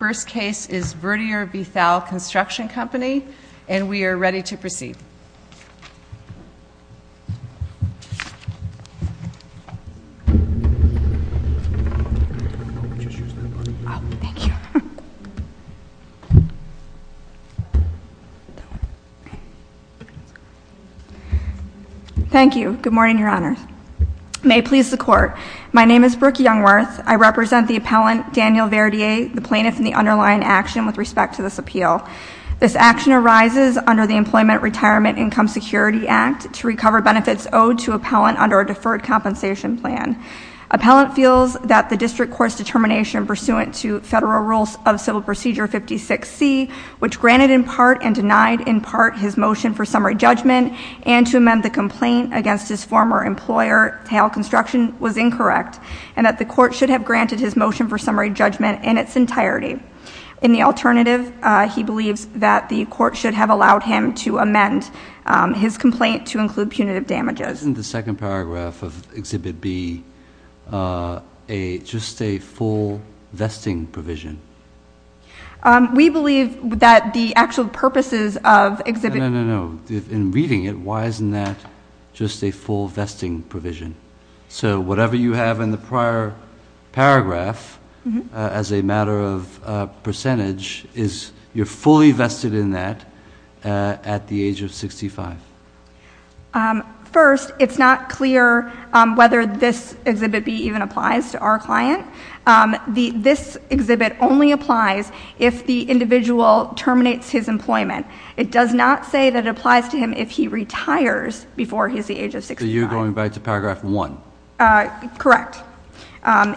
The first case is Verdier v. Thalle Construction Company, and we are ready to proceed. Thank you. Good morning, Your Honor. May it please the Court, my name is Brooke Youngworth. I represent the appellant, Daniel Verdier, the plaintiff in the underlying action with respect to this appeal. This action arises under the Employment Retirement Income Security Act to recover benefits owed to appellant under a deferred compensation plan. Appellant feels that the District Court's determination pursuant to Federal Rules of Civil Procedure 56C, which granted in part and denied in part his motion for summary judgment, and to amend the complaint against his former employer, Thalle Construction, was incorrect, and that the Court should have granted his motion for summary judgment in its entirety. In the alternative, he believes that the Court should have allowed him to amend his complaint to include punitive damages. Isn't the second paragraph of Exhibit B just a full vesting provision? We believe that the actual purposes of Exhibit B— No, no, no, no. In reading it, why isn't that just a full vesting provision? So whatever you have in the prior paragraph as a matter of percentage, you're fully vested in that at the age of 65? First, it's not clear whether this Exhibit B even applies to our client. This exhibit only applies if the individual terminates his employment. It does not say that it applies to him if he retires before he's the age of 65. So you're going back to Paragraph 1? Correct.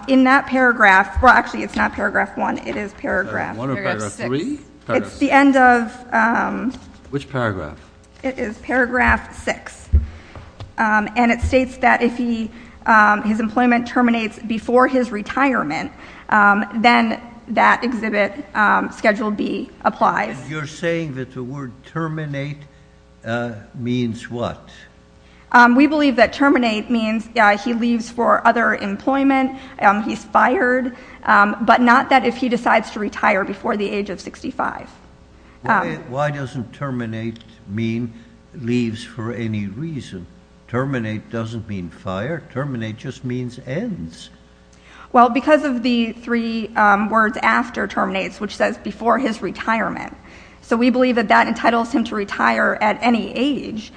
In that paragraph—well, actually, it's not Paragraph 1. It is Paragraph 6. It's the end of— Which paragraph? It is Paragraph 6. And it states that if his employment terminates before his retirement, then that exhibit, Schedule B, applies. You're saying that the word terminate means what? We believe that terminate means he leaves for other employment, he's fired, but not that if he decides to retire before the age of 65. Why doesn't terminate mean leaves for any reason? Terminate doesn't mean fire. Terminate just means ends. Well, because of the three words after terminates, which says before his retirement. So we believe that that entitles him to retire at any age,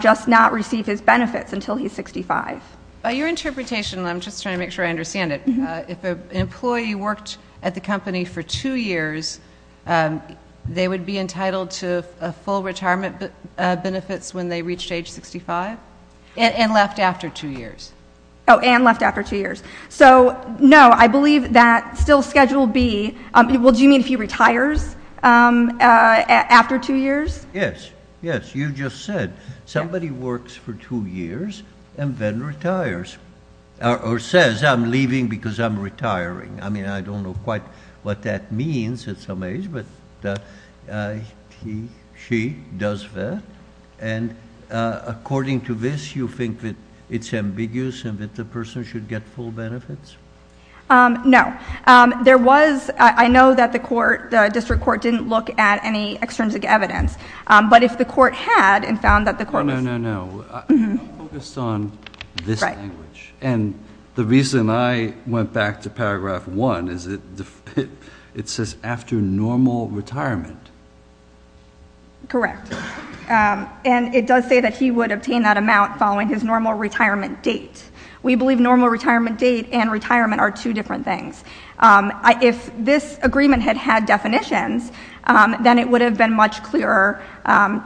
just not receive his benefits until he's 65. By your interpretation—and I'm just trying to make sure I understand it—if an employee worked at the company for two years, they would be entitled to full retirement benefits when they reached age 65? And left after two years. Oh, and left after two years. So, no, I believe that still Schedule B—well, do you mean if he retires after two years? Yes, yes, you just said somebody works for two years and then retires or says, I'm leaving because I'm retiring. I mean, I don't know quite what that means at some age, but he, she does that. And according to this, you think that it's ambiguous and that the person should get full benefits? No. There was—I know that the court, the district court, didn't look at any extrinsic evidence. But if the court had and found that the court was— No, no, no, no. I'm focused on this language. And the reason I went back to paragraph one is that it says after normal retirement. Correct. And it does say that he would obtain that amount following his normal retirement date. We believe normal retirement date and retirement are two different things. If this agreement had had definitions, then it would have been much clearer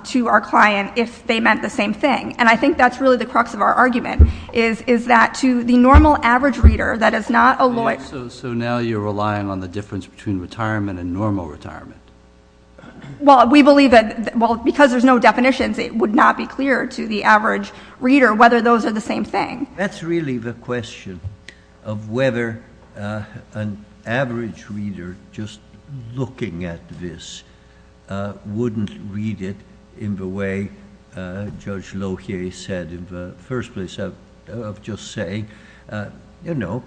to our client if they meant the same thing. And I think that's really the crux of our argument, is that to the normal average reader, that is not a lawyer— So now you're relying on the difference between retirement and normal retirement. Well, we believe that—well, because there's no definitions, it would not be clear to the average reader whether those are the same thing. That's really the question of whether an average reader just looking at this wouldn't read it in the way Judge Lohier said in the first place of just saying, you know,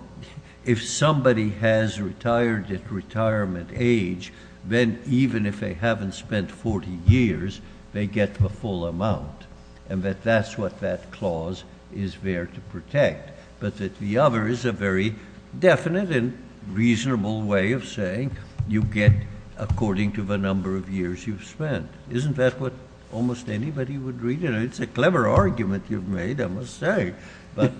if somebody has retired at retirement age, then even if they haven't spent 40 years, they get the full amount. And that that's what that clause is there to protect. But that the other is a very definite and reasonable way of saying you get according to the number of years you've spent. Isn't that what almost anybody would read? You know, it's a clever argument you've made, I must say. But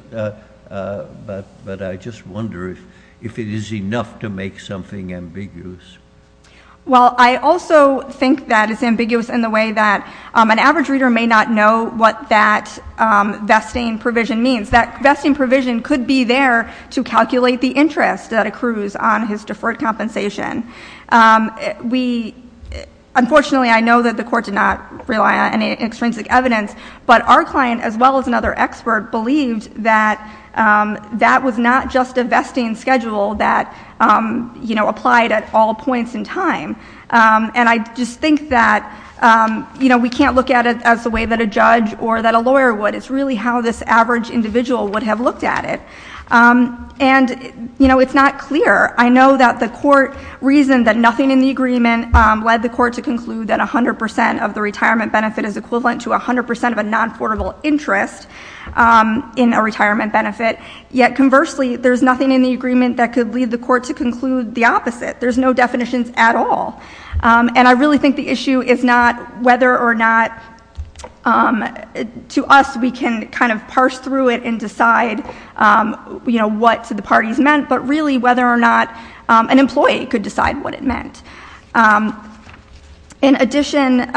I just wonder if it is enough to make something ambiguous. Well, I also think that it's ambiguous in the way that an average reader may not know what that vesting provision means. That vesting provision could be there to calculate the interest that accrues on his deferred compensation. Unfortunately, I know that the Court did not rely on any extrinsic evidence. But our client, as well as another expert, believed that that was not just a vesting schedule that, you know, applied at all points in time. And I just think that, you know, we can't look at it as the way that a judge or that a lawyer would. It's really how this average individual would have looked at it. And, you know, it's not clear. I know that the Court reasoned that nothing in the agreement led the Court to conclude that 100 percent of the retirement benefit is equivalent to 100 percent of a non-affordable interest in a retirement benefit. Yet, conversely, there's nothing in the agreement that could lead the Court to conclude the opposite. There's no definitions at all. And I really think the issue is not whether or not to us we can kind of parse through it and decide, you know, what the parties meant. But really, whether or not an employee could decide what it meant. In addition,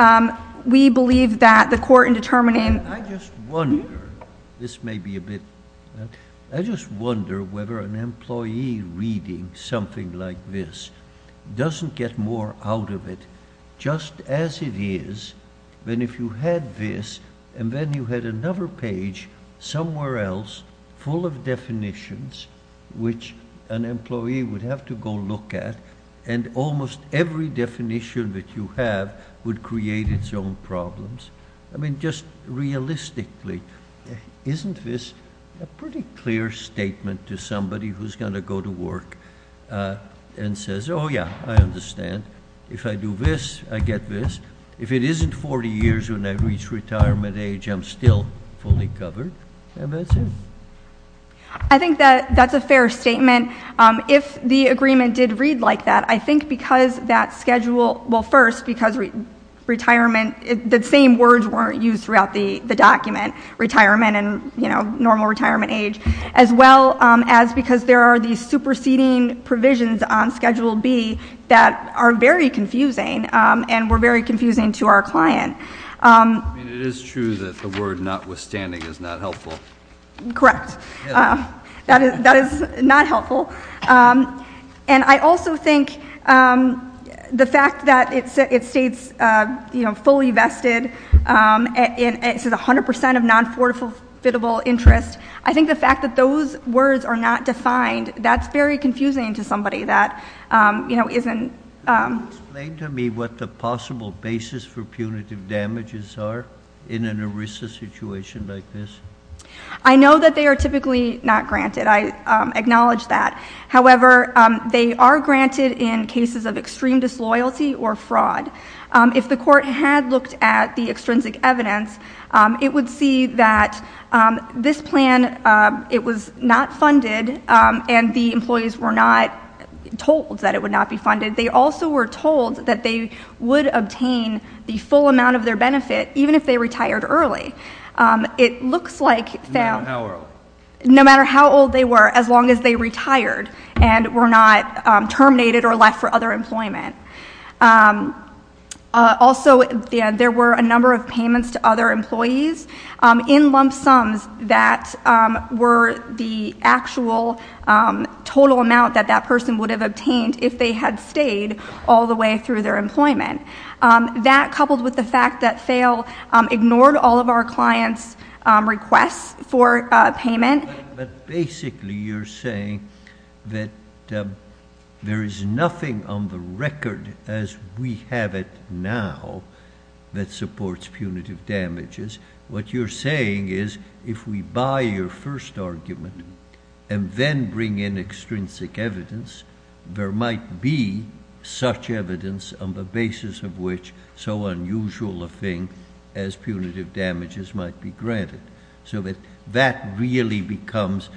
we believe that the Court in determining. I just wonder whether an employee reading something like this doesn't get more out of it just as it is than if you had this and then you had another page somewhere else full of definitions which an employee would have to go look at. And almost every definition that you have would create its own problems. I mean, just realistically, isn't this a pretty clear statement to somebody who's going to go to work and says, oh, yeah, I understand. If I do this, I get this. If it isn't 40 years when I reach retirement age, I'm still fully covered. And that's it. I think that that's a fair statement. If the agreement did read like that, I think because that schedule, well, first, because retirement, the same words weren't used throughout the document, retirement and, you know, normal retirement age. As well as because there are these superseding provisions on Schedule B that are very confusing and were very confusing to our client. It is true that the word notwithstanding is not helpful. Correct. That is not helpful. And I also think the fact that it states, you know, fully vested, it says 100% of non-forfeitable interest. I think the fact that those words are not defined, that's very confusing to somebody that, you know, isn't. Explain to me what the possible basis for punitive damages are in an ERISA situation like this. I know that they are typically not granted. I acknowledge that. However, they are granted in cases of extreme disloyalty or fraud. If the court had looked at the extrinsic evidence, it would see that this plan, it was not funded and the employees were not told that it would not be funded. They also were told that they would obtain the full amount of their benefit even if they retired early. It looks like they are. No matter how old. No matter how old they were as long as they retired and were not terminated or left for other employment. Also, there were a number of payments to other employees in lump sums that were the actual total amount that that person would have obtained if they had stayed all the way through their employment. That coupled with the fact that FAIL ignored all of our clients' requests for payment. But basically you're saying that there is nothing on the record as we have it now that supports punitive damages. What you're saying is if we buy your first argument and then bring in extrinsic evidence, there might be such evidence on the basis of which so unusual a thing as punitive damages might be granted. So that really becomes,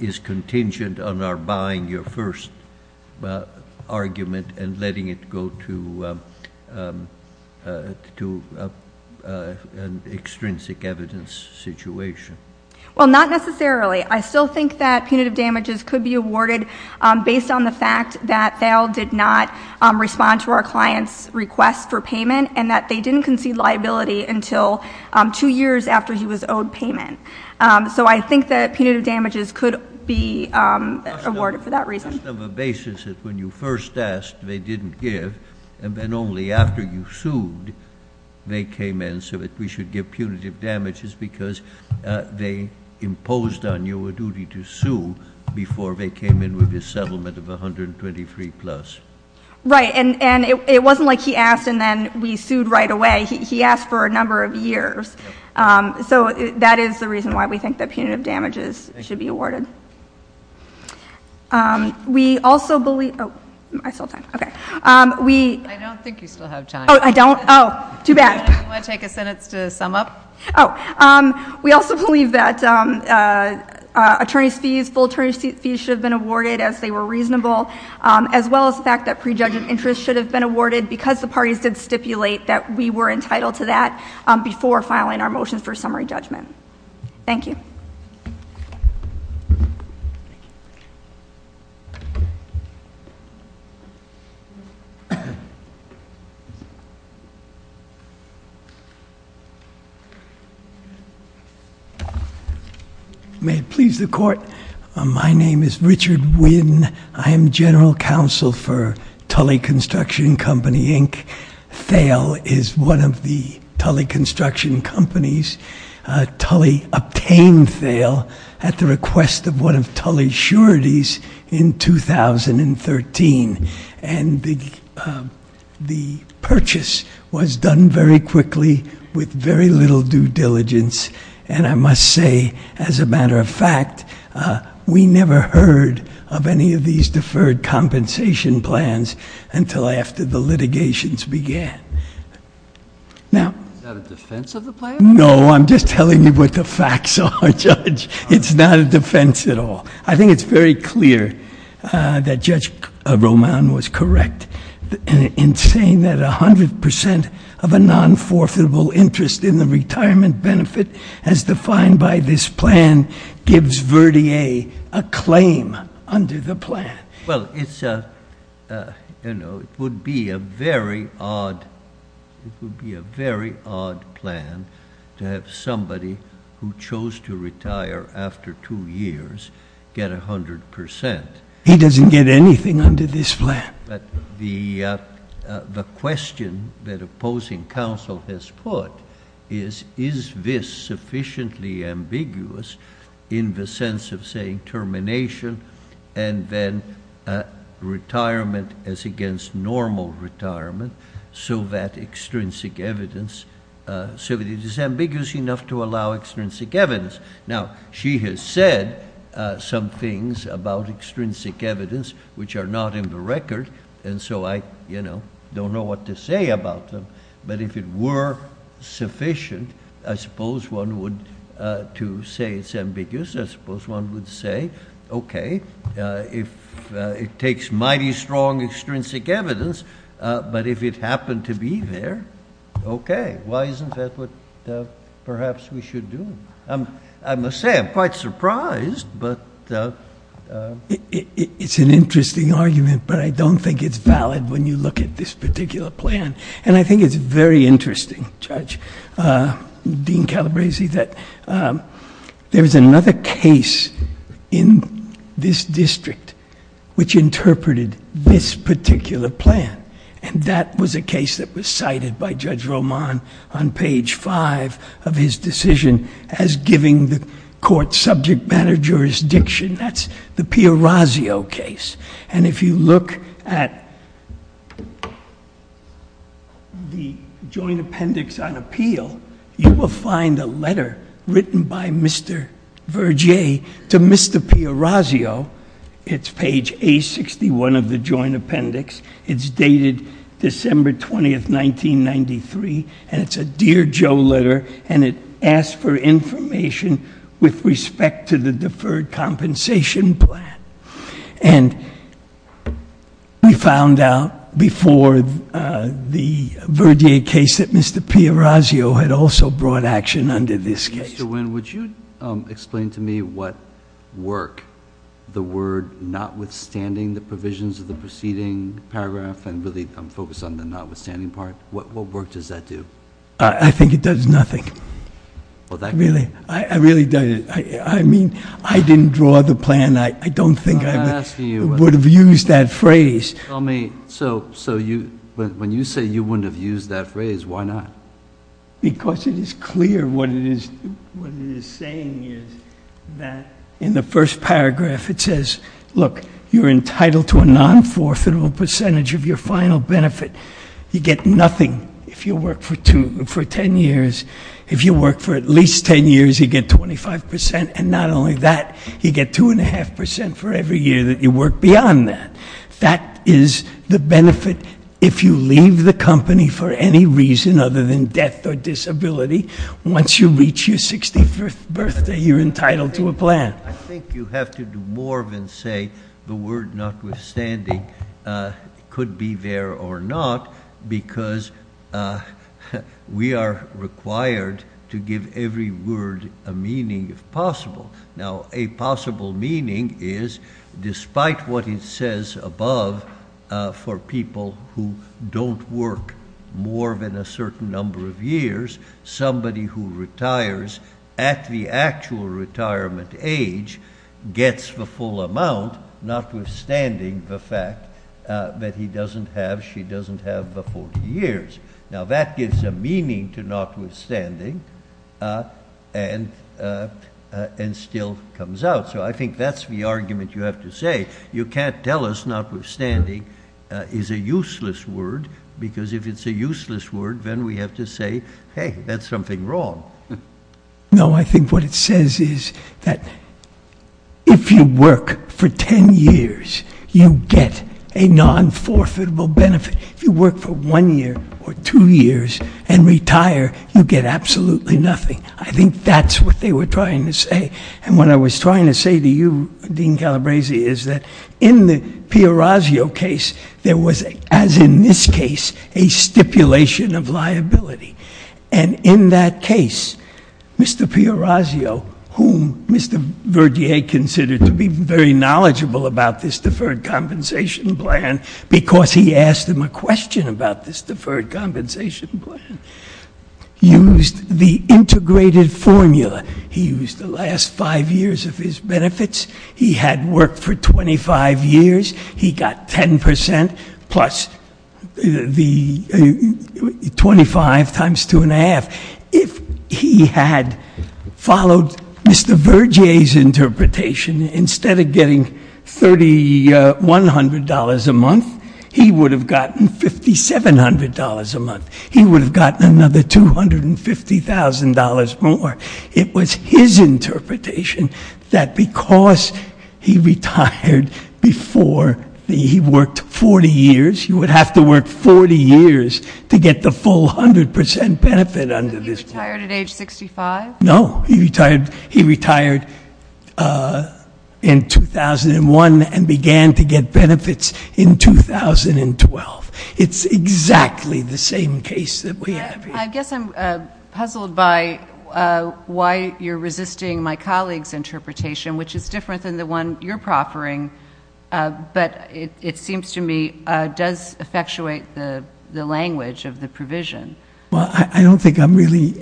is contingent on our buying your first argument and letting it go to an extrinsic evidence situation. Well, not necessarily. I still think that punitive damages could be awarded based on the fact that FAIL did not respond to our client's request for payment and that they didn't concede liability until two years after he was owed payment. So I think that punitive damages could be awarded for that reason. Just on the basis that when you first asked, they didn't give, and then only after you sued, they came in so that we should give punitive damages because they imposed on you a duty to sue before they came in with a settlement of 123 plus. Right. And it wasn't like he asked and then we sued right away. He asked for a number of years. So that is the reason why we think that punitive damages should be awarded. We also believe, oh, I still have time. Okay. I don't think you still have time. Oh, I don't? Oh, too bad. Do you want to take a sentence to sum up? Oh. We also believe that attorneys' fees, full attorneys' fees should have been awarded as they were reasonable as well as the fact that prejudged interest should have been awarded because the parties did stipulate that we were entitled to that before filing our motion for summary judgment. Thank you. Thank you. May it please the court. My name is Richard Winn. I am general counsel for Tully Construction Company, Inc. Thale is one of the Tully construction companies. Tully obtained Thale at the request of one of Tully's sureties in 2013. And the purchase was done very quickly with very little due diligence. And I must say, as a matter of fact, we never heard of any of these deferred compensation plans until after the litigations began. Is that a defense of the plan? No. I'm just telling you what the facts are, Judge. It's not a defense at all. I think it's very clear that Judge Roman was correct in saying that 100 percent of a non-forfeitable interest in the retirement benefit as defined by this plan gives Verdier a claim under the plan. Well, it would be a very odd plan to have somebody who chose to retire after two years get 100 percent. He doesn't get anything under this plan. But the question that opposing counsel has put is, is this sufficiently ambiguous in the sense of saying termination and then retirement as against normal retirement so that extrinsic evidence – so that it is ambiguous enough to allow extrinsic evidence? Now, she has said some things about extrinsic evidence which are not in the record, and so I don't know what to say about them. But if it were sufficient, I suppose one would – to say it's ambiguous, I suppose one would say, okay, it takes mighty strong extrinsic evidence, but if it happened to be there, okay. Why isn't that what perhaps we should do? I must say I'm quite surprised, but... It's an interesting argument, but I don't think it's valid when you look at this particular plan. And I think it's very interesting, Judge – Dean Calabresi, that there's another case in this district which interpreted this particular plan, and that was a case that was cited by Judge Roman on page five of his decision as giving the court subject matter jurisdiction. That's the Piorazzo case, and if you look at the Joint Appendix on Appeal, you will find a letter written by Mr. Vergier to Mr. Piorazzo. It's page A61 of the Joint Appendix. It's dated December 20, 1993, and it's a Dear Joe letter, and it asks for information with respect to the deferred compensation plan. And we found out before the Vergier case that Mr. Piorazzo had also brought action under this case. Mr. Winn, would you explain to me what work the word notwithstanding the provisions of the preceding paragraph, and really I'm focused on the notwithstanding part, what work does that do? I think it does nothing. Really? I really don't. I mean, I didn't draw the plan. I don't think I would have used that phrase. So when you say you wouldn't have used that phrase, why not? Because it is clear what it is saying is that in the first paragraph it says, look, you're entitled to a non-forfeitable percentage of your final benefit. You get nothing if you work for 10 years. If you work for at least 10 years, you get 25%, and not only that, you get 2.5% for every year that you work beyond that. That is the benefit if you leave the company for any reason other than death or disability. Once you reach your 65th birthday, you're entitled to a plan. I think you have to do more than say the word notwithstanding could be there or not because we are required to give every word a meaning if possible. Now, a possible meaning is despite what it says above for people who don't work more than a certain number of years, somebody who retires at the actual retirement age gets the full amount notwithstanding the fact that he doesn't have, she doesn't have the 40 years. Now, that gives a meaning to notwithstanding and still comes out. So I think that's the argument you have to say. You can't tell us notwithstanding is a useless word because if it's a useless word, then we have to say, hey, that's something wrong. No, I think what it says is that if you work for 10 years, you get a non-forfeitable benefit. If you work for one year or two years and retire, you get absolutely nothing. I think that's what they were trying to say. And what I was trying to say to you, Dean Calabresi, is that in the Piorazzo case, there was, as in this case, a stipulation of liability. And in that case, Mr. Piorazzo, whom Mr. Verdier considered to be very knowledgeable about this deferred compensation plan because he asked him a question about this deferred compensation plan, used the integrated formula. He used the last five years of his benefits. He had worked for 25 years. He got 10% plus the 25 times 2.5. If he had followed Mr. Verdier's interpretation, instead of getting $3,100 a month, he would have gotten $5,700 a month. He would have gotten another $250,000 more. It was his interpretation that because he retired before he worked 40 years, he would have to work 40 years to get the full 100% benefit under this plan. So he retired at age 65? No. He retired in 2001 and began to get benefits in 2012. It's exactly the same case that we have here. I guess I'm puzzled by why you're resisting my colleague's interpretation, which is different than the one you're proffering, but it seems to me does effectuate the language of the provision. Well, I don't think I'm really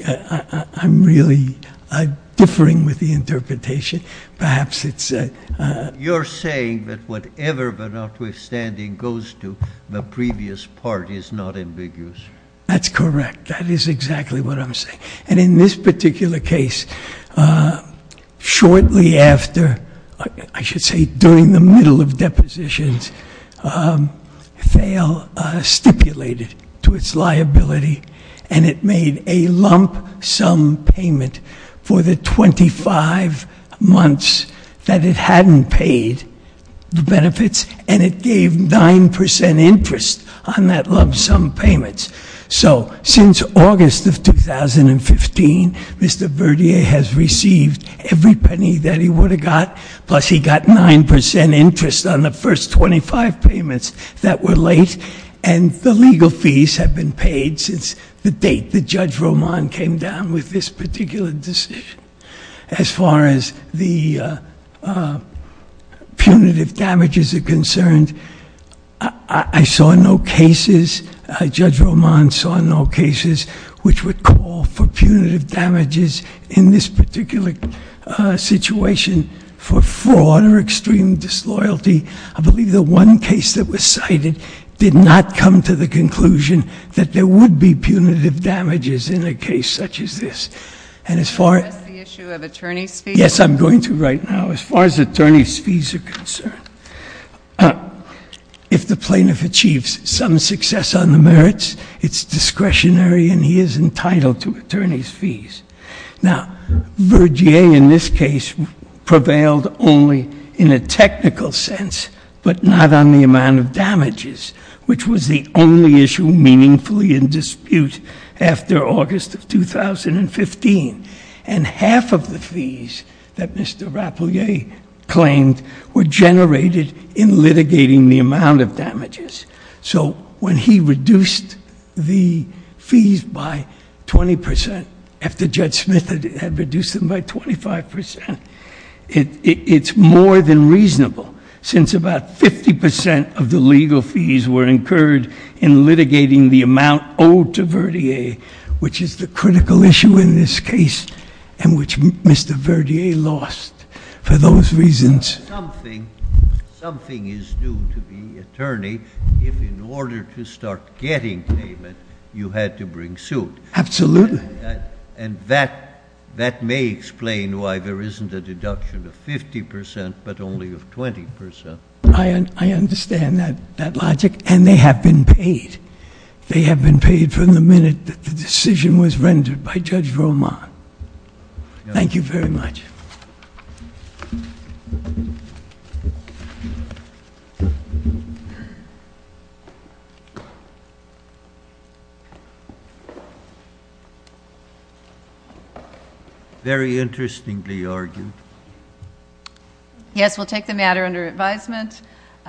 differing with the interpretation. Perhaps it's ‑‑ You're saying that whatever the notwithstanding goes to, the previous part is not ambiguous. That's correct. That is exactly what I'm saying. And in this particular case, shortly after, I should say during the middle of depositions, FAIL stipulated to its liability, and it made a lump sum payment for the 25 months that it hadn't paid the benefits, and it gave 9% interest on that lump sum payment. So since August of 2015, Mr. Verdier has received every penny that he would have got, plus he got 9% interest on the first 25 payments that were late, and the legal fees have been paid since the date that Judge Roman came down with this particular decision. As far as the punitive damages are concerned, I saw no cases, Judge Roman saw no cases, which would call for punitive damages in this particular situation for fraud or extreme disloyalty. I believe the one case that was cited did not come to the conclusion that there would be punitive damages in a case such as this. And as far as the issue of attorney's fees? Yes, I'm going to right now. As far as attorney's fees are concerned, if the plaintiff achieves some success on the merits, it's discretionary and he is entitled to attorney's fees. Now, Verdier in this case prevailed only in a technical sense, but not on the amount of damages, which was the only issue meaningfully in dispute after August of 2015. And half of the fees that Mr. Rapelier claimed were generated in litigating the amount of damages. So when he reduced the fees by 20%, after Judge Smith had reduced them by 25%, it's more than reasonable since about 50% of the legal fees were incurred in litigating the amount owed to Verdier, which is the critical issue in this case and which Mr. Verdier lost for those reasons. Something is due to the attorney if in order to start getting payment, you had to bring suit. Absolutely. And that may explain why there isn't a deduction of 50% but only of 20%. I understand that logic and they have been paid. They have been paid from the minute that the decision was rendered by Judge Roman. Thank you very much. Very interestingly argued. Yes, we'll take the matter under advisement.